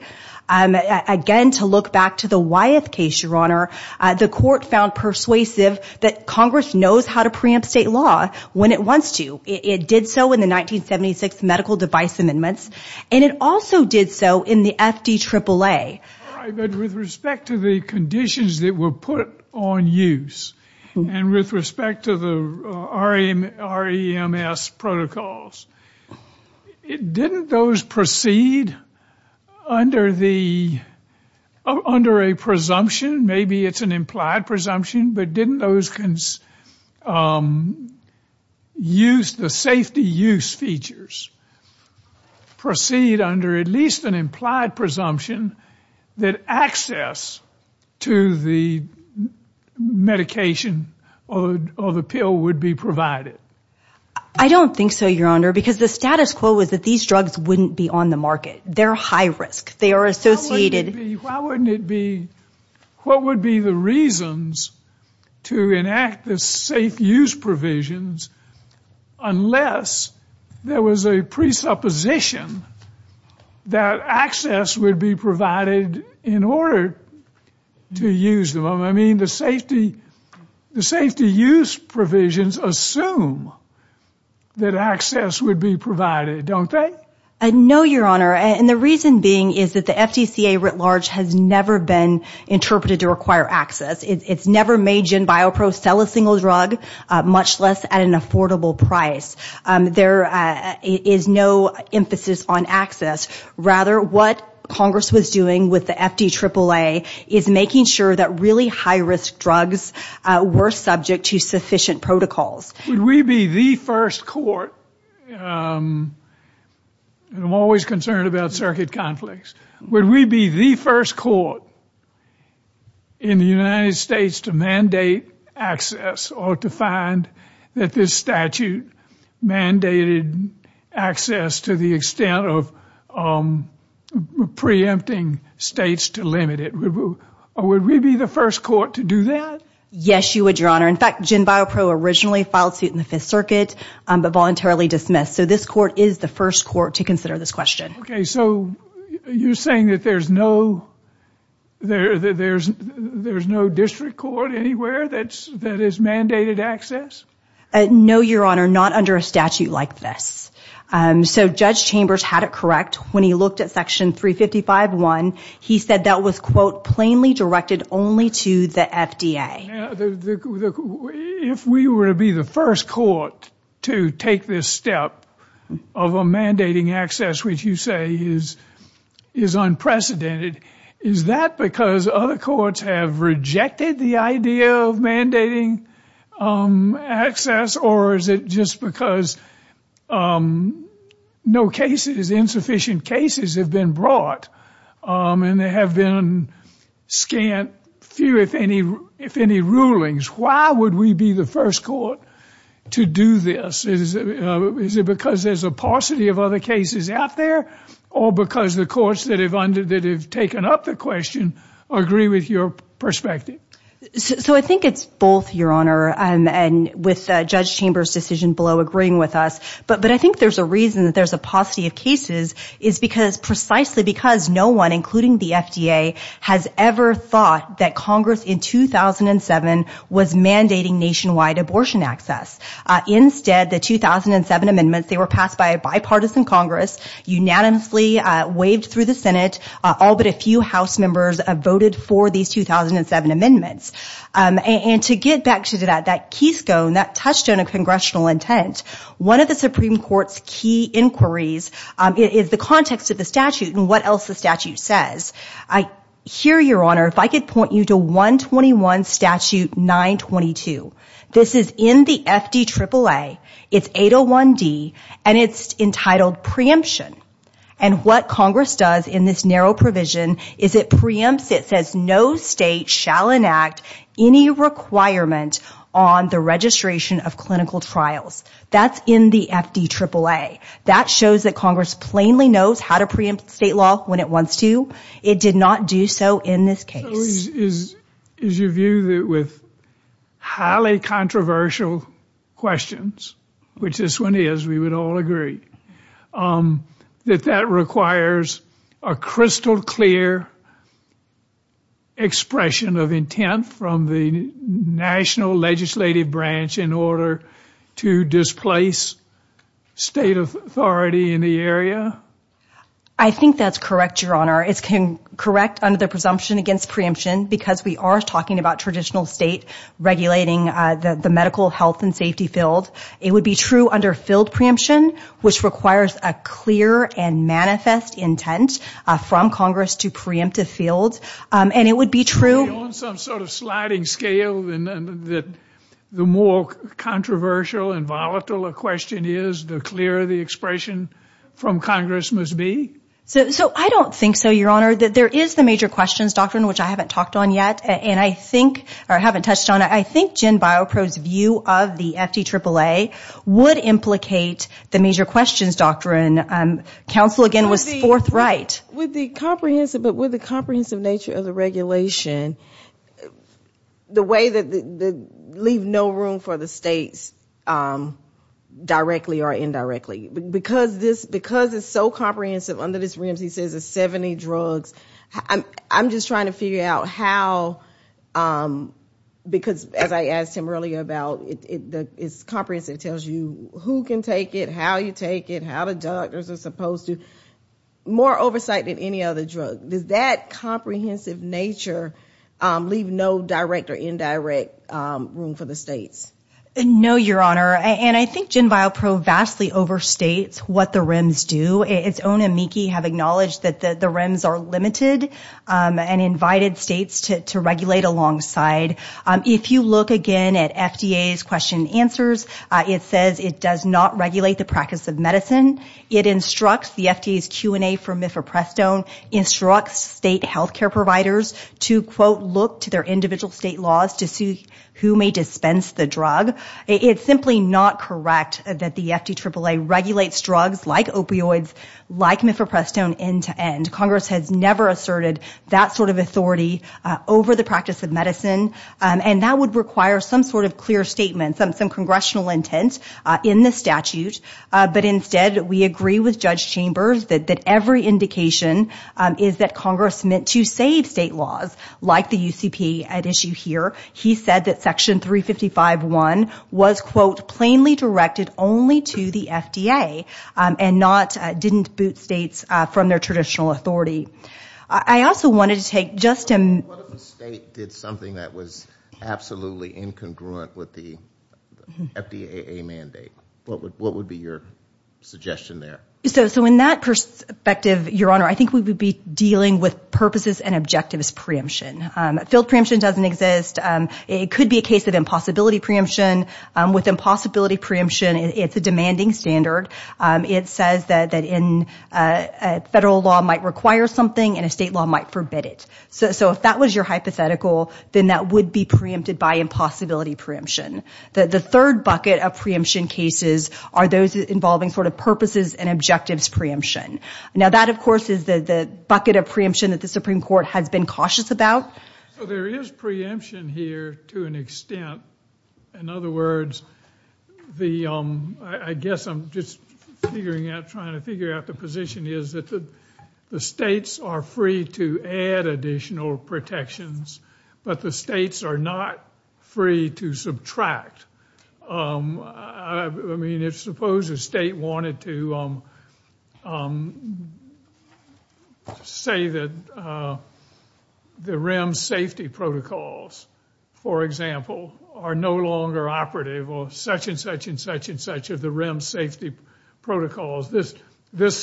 Again, to look back to the Wyeth case, Your Honor, the court found persuasive that Congress knows how to preempt state law when it wants to. It did so in the 1976 medical device amendments. And it also did so in the FDAAA. But with respect to the conditions that were put on use and with respect to the REMS protocols, didn't those proceed under a presumption? Maybe it's an implied presumption, but didn't those use the safety use features proceed under at least an implied presumption that access to the medication or the pill would be provided? I don't think so, Your Honor, because the status quo was that these drugs wouldn't be on the market. They're high risk. They are associated... Why wouldn't it be... What would be the reasons to enact the safe use provisions unless there was a presupposition that access would be provided in order to use them? I mean, the safety use provisions assume that access would be provided, don't they? No, Your Honor. And the reason being is that the FDCA writ large has never been interpreted to require access. It's never made GenBioPro sell a single drug, much less at an affordable price. There is no emphasis on access. Rather, what Congress was doing with the FDAAA is making sure that really high-risk drugs were subject to sufficient protocols. Would we be the first court... I'm always concerned about circuit conflicts. Would we be the first court in the United States to mandate access or to find that this statute mandated access to the extent of preempting states to limit it? Would we be the first court to do that? Yes, you would, Your Honor. In fact, GenBioPro originally filed suit in the Fifth Circuit but voluntarily dismissed. So this court is the first court to consider this question. Okay, so you're saying that there's no district court anywhere that is mandated access? No, Your Honor, not under a statute like this. So Judge Chambers had it correct when he looked at Section 355.1. He said that was, quote, plainly directed only to the FDA. If we were to be the first court to take this step of a mandating access which you say is unprecedented, is that because other courts have rejected the idea of mandating access or is it just because insufficient cases have been brought and there have been scant, few if any, rulings? Why would we be the first court to do this? Is it because there's a paucity of other cases out there or because the courts that have taken up the question agree with your perspective? So I think it's both, Your Honor, with Judge Chambers' decision below agreeing with us. But I think there's a reason that there's a paucity of cases is precisely because no one, including the FDA, has ever thought that Congress in 2007 was mandating nationwide abortion access. Instead, the 2007 amendments, they were passed by a bipartisan Congress, unanimously waived through the Senate. All but a few House members voted for these 2007 amendments. And to get back to that, that keystone, that touchstone of Congressional intent, one of the Supreme Court's key inquiries is the context of the statute and what else the statute says. Here, Your Honor, if I could point you to 121 Statute 922. This is in the FDAAA. It's 801D and it's entitled Preemption. And what Congress does in this narrow provision is it preempts, it says no state shall enact any requirement on the registration of clinical trials. That's in the FDAAA. That shows that Congress plainly knows how to preempt state law when it wants to. It did not do so in this case. So is your view that with highly controversial questions, which this one is, we would all agree, that that requires a crystal clear expression of intent from the national legislative branch in order to displace state authority in the area? I think that's correct, Your Honor. It's correct under the presumption against preemption because we are talking about traditional state regulating the medical, health, and safety field. It would be true under field preemption, which requires a clear and manifest intent from Congress to preempt a field. Beyond some sort of sliding scale that the more controversial and volatile a question is, the clearer the expression from Congress must be? I don't think so, Your Honor. There is the major questions doctrine, which I haven't talked on yet. And I think, or I haven't touched on it, I think Jen Biopro's view of the FTAAA would implicate the major questions doctrine. Counsel, again, was forthright. With the comprehensive nature of the regulation, the way that they leave no room for the states directly or indirectly. Because it's so comprehensive under this reams, he says, of 70 drugs, I'm just trying to figure out how because as I asked him earlier about it's comprehensive. It tells you who can take it, how you take it, how the doctors are supposed to. More oversight than any other drug. Does that comprehensive nature leave no direct or indirect room for the states? No, Your Honor. And I think Jen Biopro vastly overstates what the reams do. Its own the reams are limited. And invited states to regulate alongside. If you look again at FDA's question answers, it says it does not regulate the practice of medicine. It instructs the FDA's Q&A for Mifeprestone, instructs state healthcare providers to, quote, look to their individual state laws to see who may dispense the drug. It's simply not correct that the FTAAA regulates drugs like opioids, like Mifeprestone end to end. Congress has never asserted that sort of authority over the practice of medicine. And that would require some sort of clear statement, some congressional intent in the statute. But instead, we agree with Judge Chambers that every indication is that Congress meant to save state laws like the UCP at issue here. He said that Section 355.1 was, quote, plainly directed only to the FDA. And not, didn't boot states from their traditional authority. I also wanted to take just a... What if a state did something that was absolutely incongruent with the FDAA mandate? What would be your suggestion there? So in that perspective, Your Honor, I think we would be dealing with purposes and objectives preemption. Field preemption doesn't exist. It could be a case of impossibility preemption. With impossibility preemption, it's a demanding standard. It says that in federal law might require something and a state law might forbid it. So if that was your hypothetical, then that would be preempted by impossibility preemption. The third bucket of preemption cases are those involving sort of purposes and objectives preemption. Now that, of course, is the bucket of preemption that the Supreme Court has been cautious about. So there is preemption here to an extent. In other words, the... I guess I'm just figuring out, trying to figure out the position is that the states are free to add additional protections, but the states are not free to subtract. I mean, if suppose a state wanted to say that the REM safety protocols, for example, are no longer operative or such and such and such and such of the REM safety protocols, this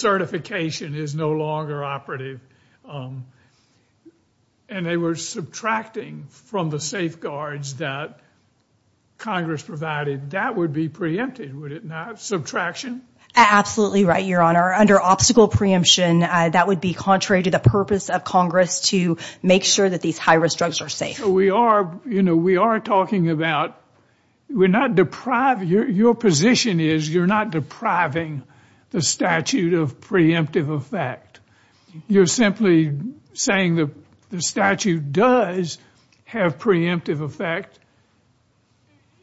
certification is no longer operative. And they were subtracting from the safeguards that Congress provided. That would be preempted, would it not? Subtraction? Absolutely right, Your Honor. Under obstacle preemption, that would be contrary to the purpose of Congress to make sure that these high-risk drugs are safe. We are talking about... Your position is you're not depriving the statute of preemptive effect. You're simply saying the statute does have preemptive effect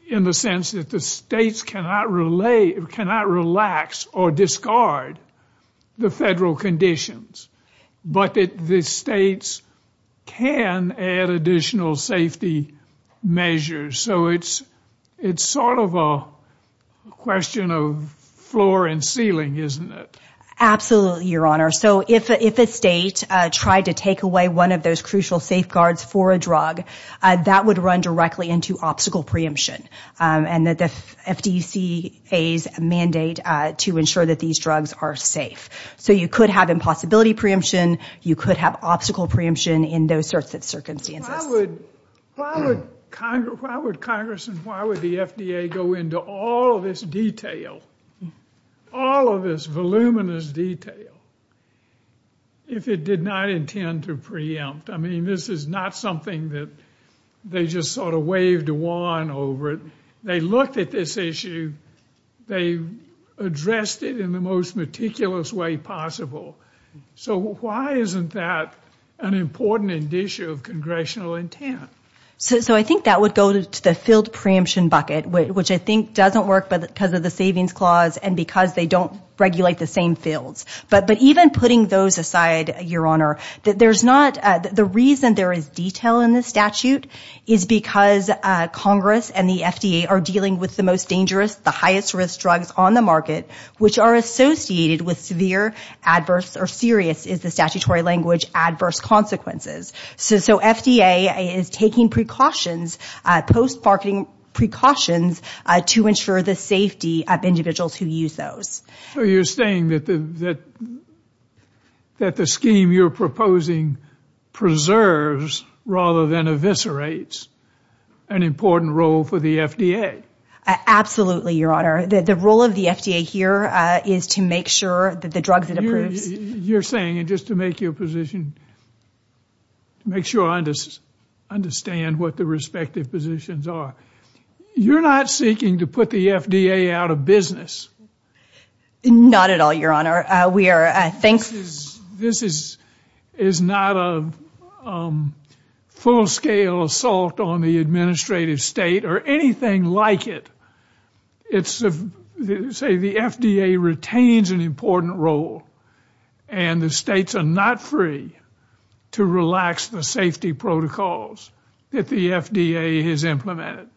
in the sense that the states cannot relax or reduce safety conditions, but the states can add additional safety measures. So it's sort of a question of floor and ceiling, isn't it? Absolutely, Your Honor. So if a state tried to take away one of those crucial safeguards for a drug, that would run directly into obstacle preemption. And the FDCA's mandate to ensure that these drugs are safe. So you could have impossibility preemption, you could have obstacle preemption in those sorts of circumstances. Why would Congress and why would the FDA go into all of this detail, all of this voluminous detail, if it did not intend to preempt? I mean, this is not something that they just sort of waved a wand over. They looked at this issue. They addressed it in the most meticulous way possible. So why isn't that an important issue of Congressional intent? So I think that would go to the field preemption bucket, which I think doesn't work because of the savings clause and because they don't regulate the same fields. But even putting those aside, Your Honor, the reason there is detail in this statute is because Congress and the FDA are dealing with the most dangerous, the highest risk drugs on the market, which are associated with severe, adverse, or serious is the statutory language, adverse consequences. So FDA is taking precautions, post-marketing precautions to ensure the safety of individuals who use those. So you're saying that the scheme you're proposing preserves rather than eviscerates an important role for the FDA? Absolutely, Your Honor. The role of the FDA here is to make sure that the drugs it approves... You're saying, and just to make your position, to make sure I understand what the respective positions are, you're not seeking to put the FDA out of business? Not at all, Your Honor. We are, I think... This is not a full-scale assault on the administrative state or anything like it. It's, say, the FDA retains an important role and the states are not free to relax the safety protocols that the FDA has implemented.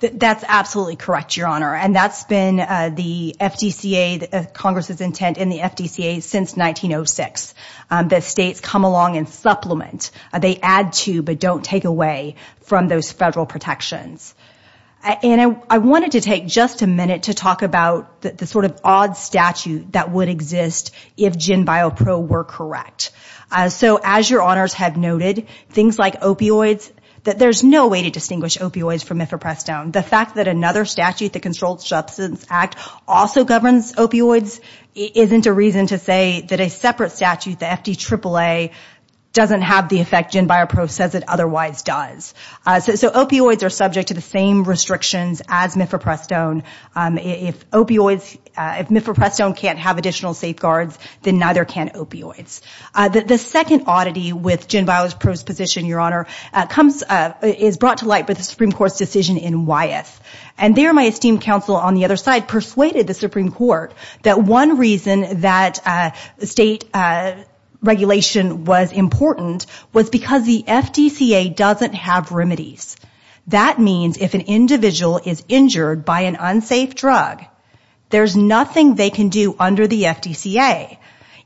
That's absolutely correct, Your Honor, and that's been the FDCA, Congress' intent in the FDCA since 1906, that states come along and supplement. They add to but don't take away from those federal protections. And I wanted to take just a minute to talk about the sort of odd statute that would exist if GenBioPro were correct. So as Your Honors have noted, things like opioids, there's no way to distinguish opioids from mifeprestone. The fact that another statute, the Controlled Substance Act, also governs opioids isn't a reason to say that a separate statute, the FDAAA, doesn't have the effect GenBioPro says it otherwise does. So opioids are subject to the same restrictions as mifeprestone. If opioids, if mifeprestone can't have additional safeguards, then neither can opioids. The second oddity with GenBioPro's position, Your Honor, is brought to light by the Supreme Court's decision in Wyeth. And there my esteemed counsel on the other side persuaded the Supreme Court that one reason that state regulation was important was because the FDCA doesn't have remedies. That means if an individual is injured by an unsafe drug, there's nothing they can do under the FDCA.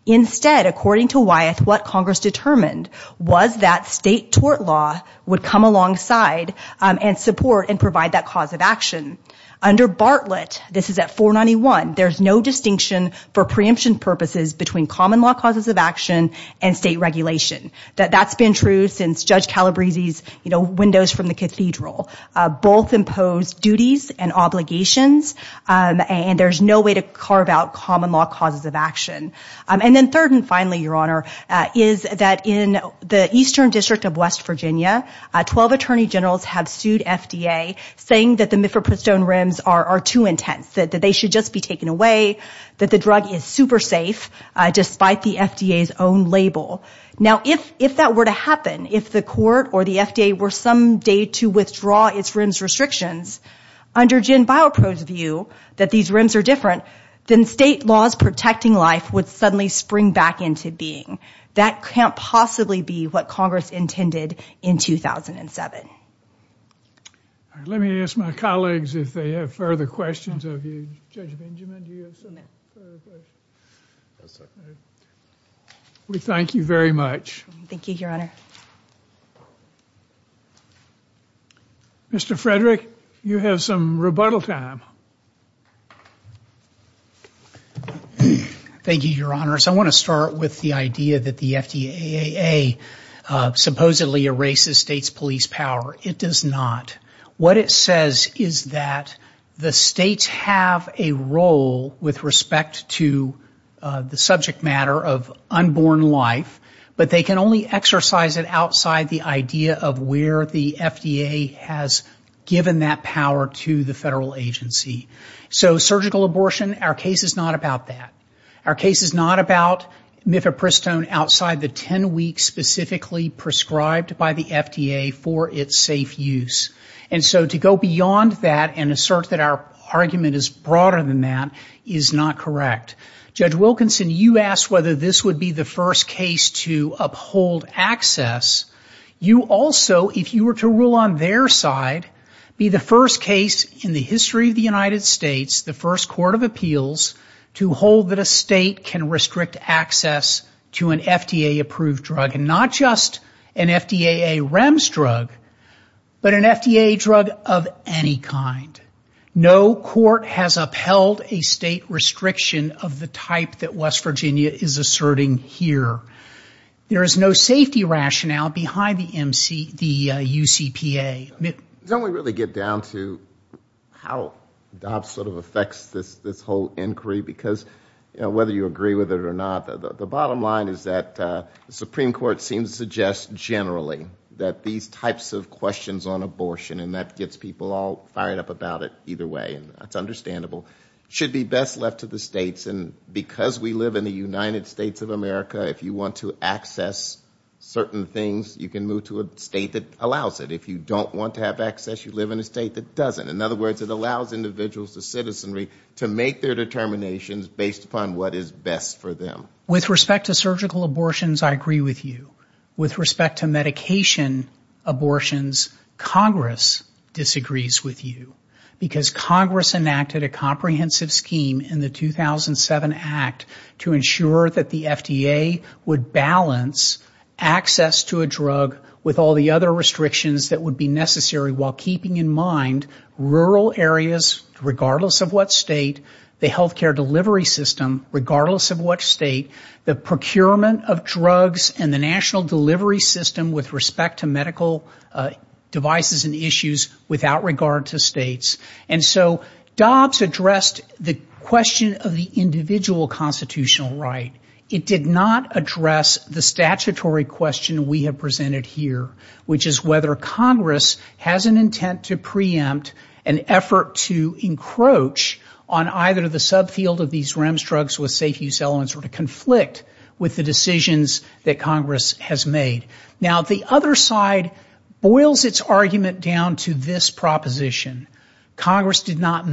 Instead, according to Wyeth, what Congress determined was that state tort law would come alongside and support and provide that cause of action. Under Bartlett, this is at 491, there's no distinction for preemption purposes between common law causes of action and state regulation. That's been true since Judge Calabrese's Windows from the Cathedral. Both impose duties and obligations and there's no way to carve out common law causes of action. And then third and finally, Your Honor, is that in the Eastern District of West Virginia, 12 Attorney Generals have sued FDA saying that the Mifepristone rims are too intense, that they should just be taken away, that the drug is super safe despite the FDA's own label. Now if that were to happen, if the court or the FDA were someday to withdraw its rims restrictions under GenBioPro's view that these rims are different then state laws protecting life would suddenly spring back into being. That can't possibly be what Congress intended in 2007. Let me ask my colleagues if they have further questions of you. Judge Benjamin, do you have some further questions? We thank you very much. Thank you, Your Honor. Mr. Frederick, you have some rebuttal time. Thank you, Your Honors. I want to start with the idea that the FDA supposedly erases state's police power. It does not. What it says is that the states have a role with respect to the subject matter of unborn life, but they can only exercise it outside the idea of where the FDA has given that power to the federal agency. So surgical abortion, our case is not about that. Our case is not about Mifepristone outside the 10 weeks specifically prescribed by the FDA for its safe use. And so to go beyond that and assert that our argument is broader than that is not correct. Judge Wilkinson, you asked whether this would be the first case to uphold access. You also, if you were to rule on their side, be the first case in the history of the United States, the first court of appeals to hold that a state can restrict access to an FDA-approved drug, and not just an FDA REMS drug, but an FDA drug of any kind. No court has upheld a state restriction of the type that West Virginia is asserting here. There is no safety rationale behind the UCPA. Don't we really get down to how DOPS sort of affects this whole inquiry? Because whether you agree with it or not, the bottom line is that the Supreme Court seems to suggest generally that these types of questions on abortion, and that gets people all fired up about it either way, and that's understandable, should be best left to the states. And because we live in the United States of America, if you want to access certain things, you can move to a state that allows it. If you don't want to have access, you live in a state that doesn't. In other words, it allows individuals to citizenry to make their determinations based upon what is best for them. With respect to surgical abortions, I agree with you. With respect to medication abortions, Congress disagrees with you. Because Congress enacted a comprehensive scheme in the 2007 Act to ensure that the FDA would balance access to a drug with all the other restrictions that would be necessary while keeping in mind rural areas, regardless of what state, the healthcare delivery system, regardless of what state, the procurement of drugs, and the national delivery system with respect to medical devices and issues without regard to states. And so DOPS addressed the question of the individual constitutional right. It did not address the statutory question we have presented here, which is whether Congress has an intent to preempt an effort to encroach on either the subfield of these REMS drugs with safe use elements or to conflict with the decisions that Congress has made. Now, the other side boils its argument down to this proposition. Congress did not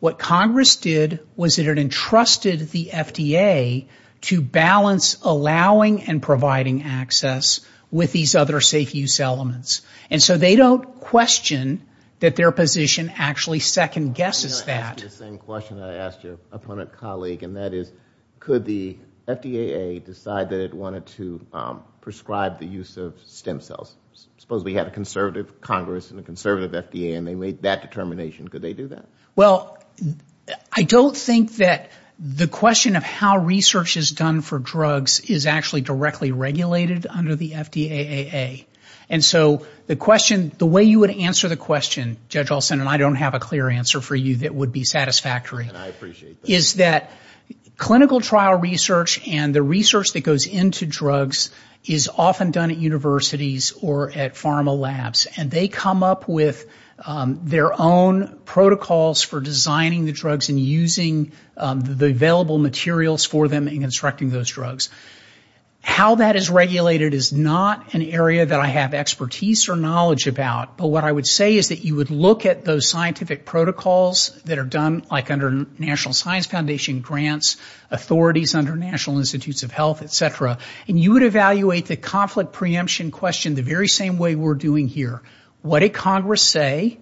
What Congress did was it entrusted the FDA to balance allowing and providing access with these other safe use elements. And so they don't question that their position actually second guesses that. I'm going to ask you the same question I asked your opponent colleague, and that is, could the FDA decide that it wanted to prescribe the use of stem cells? Suppose we had a FDA and they made that determination. Could they do that? Well, I don't think that the question of how research is done for drugs is actually directly regulated under the FDAAA. And so the way you would answer the question, Judge Olson, and I don't have a clear answer for you that would be satisfactory, is that clinical trial research and the research that or at pharma labs. And they come up with their own protocols for designing the drugs and using the available materials for them and constructing those drugs. How that is regulated is not an area that I have expertise or knowledge about. But what I would say is that you would look at those scientific protocols that are done like under National Science Foundation grants, authorities under National Institutes of Health, et cetera, and you would evaluate the conflict preemption question the very same way we're doing here. What did Congress say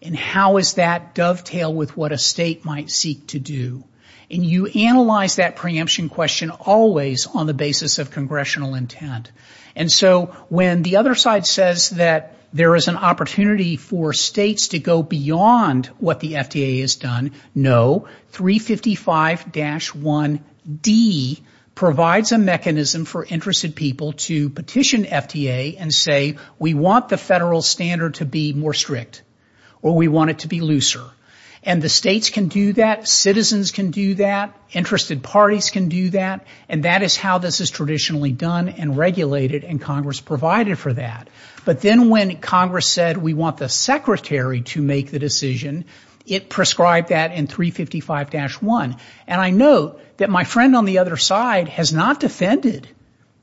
and how does that dovetail with what a state might seek to do? And you analyze that preemption question always on the basis of congressional intent. And so when the other side says that there is an opportunity for states to go no, 355-1D provides a mechanism for interested people to petition FDA and say we want the federal standard to be more strict or we want it to be looser. And the states can do that, citizens can do that, interested parties can do that, and that is how this is traditionally done and regulated and Congress provided for that. But then when Congress said we want the secretary to make the decision, it prescribed that in 355-1. And I note that my friend on the other side has not defended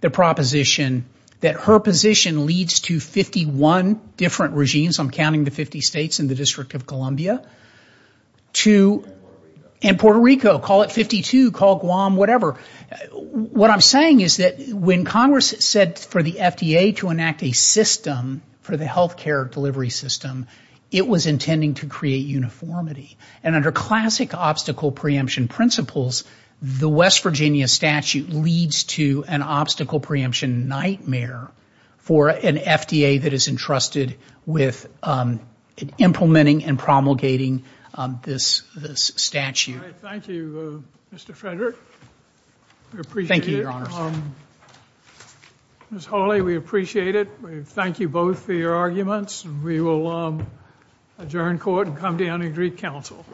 the proposition that her position leads to 51 different regimes, I'm counting the 50 states in the District of Columbia, and Puerto Rico, call it 52, call Guam, whatever. What I'm saying is that when Congress said for the FDA to enact a system for the healthcare delivery system, it was intending to create uniformity. And under classic obstacle preemption principles, the West Virginia statute leads to an obstacle preemption nightmare for an FDA that is entrusted with implementing and promulgating this statute. Thank you, Mr. Frederick. We appreciate it. Ms. Hawley, we appreciate it. We thank you both for your arguments. We will adjourn court and come down and greet counsel.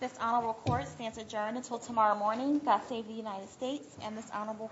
This honorable court stands adjourned until tomorrow morning. God save the United States and this honorable court.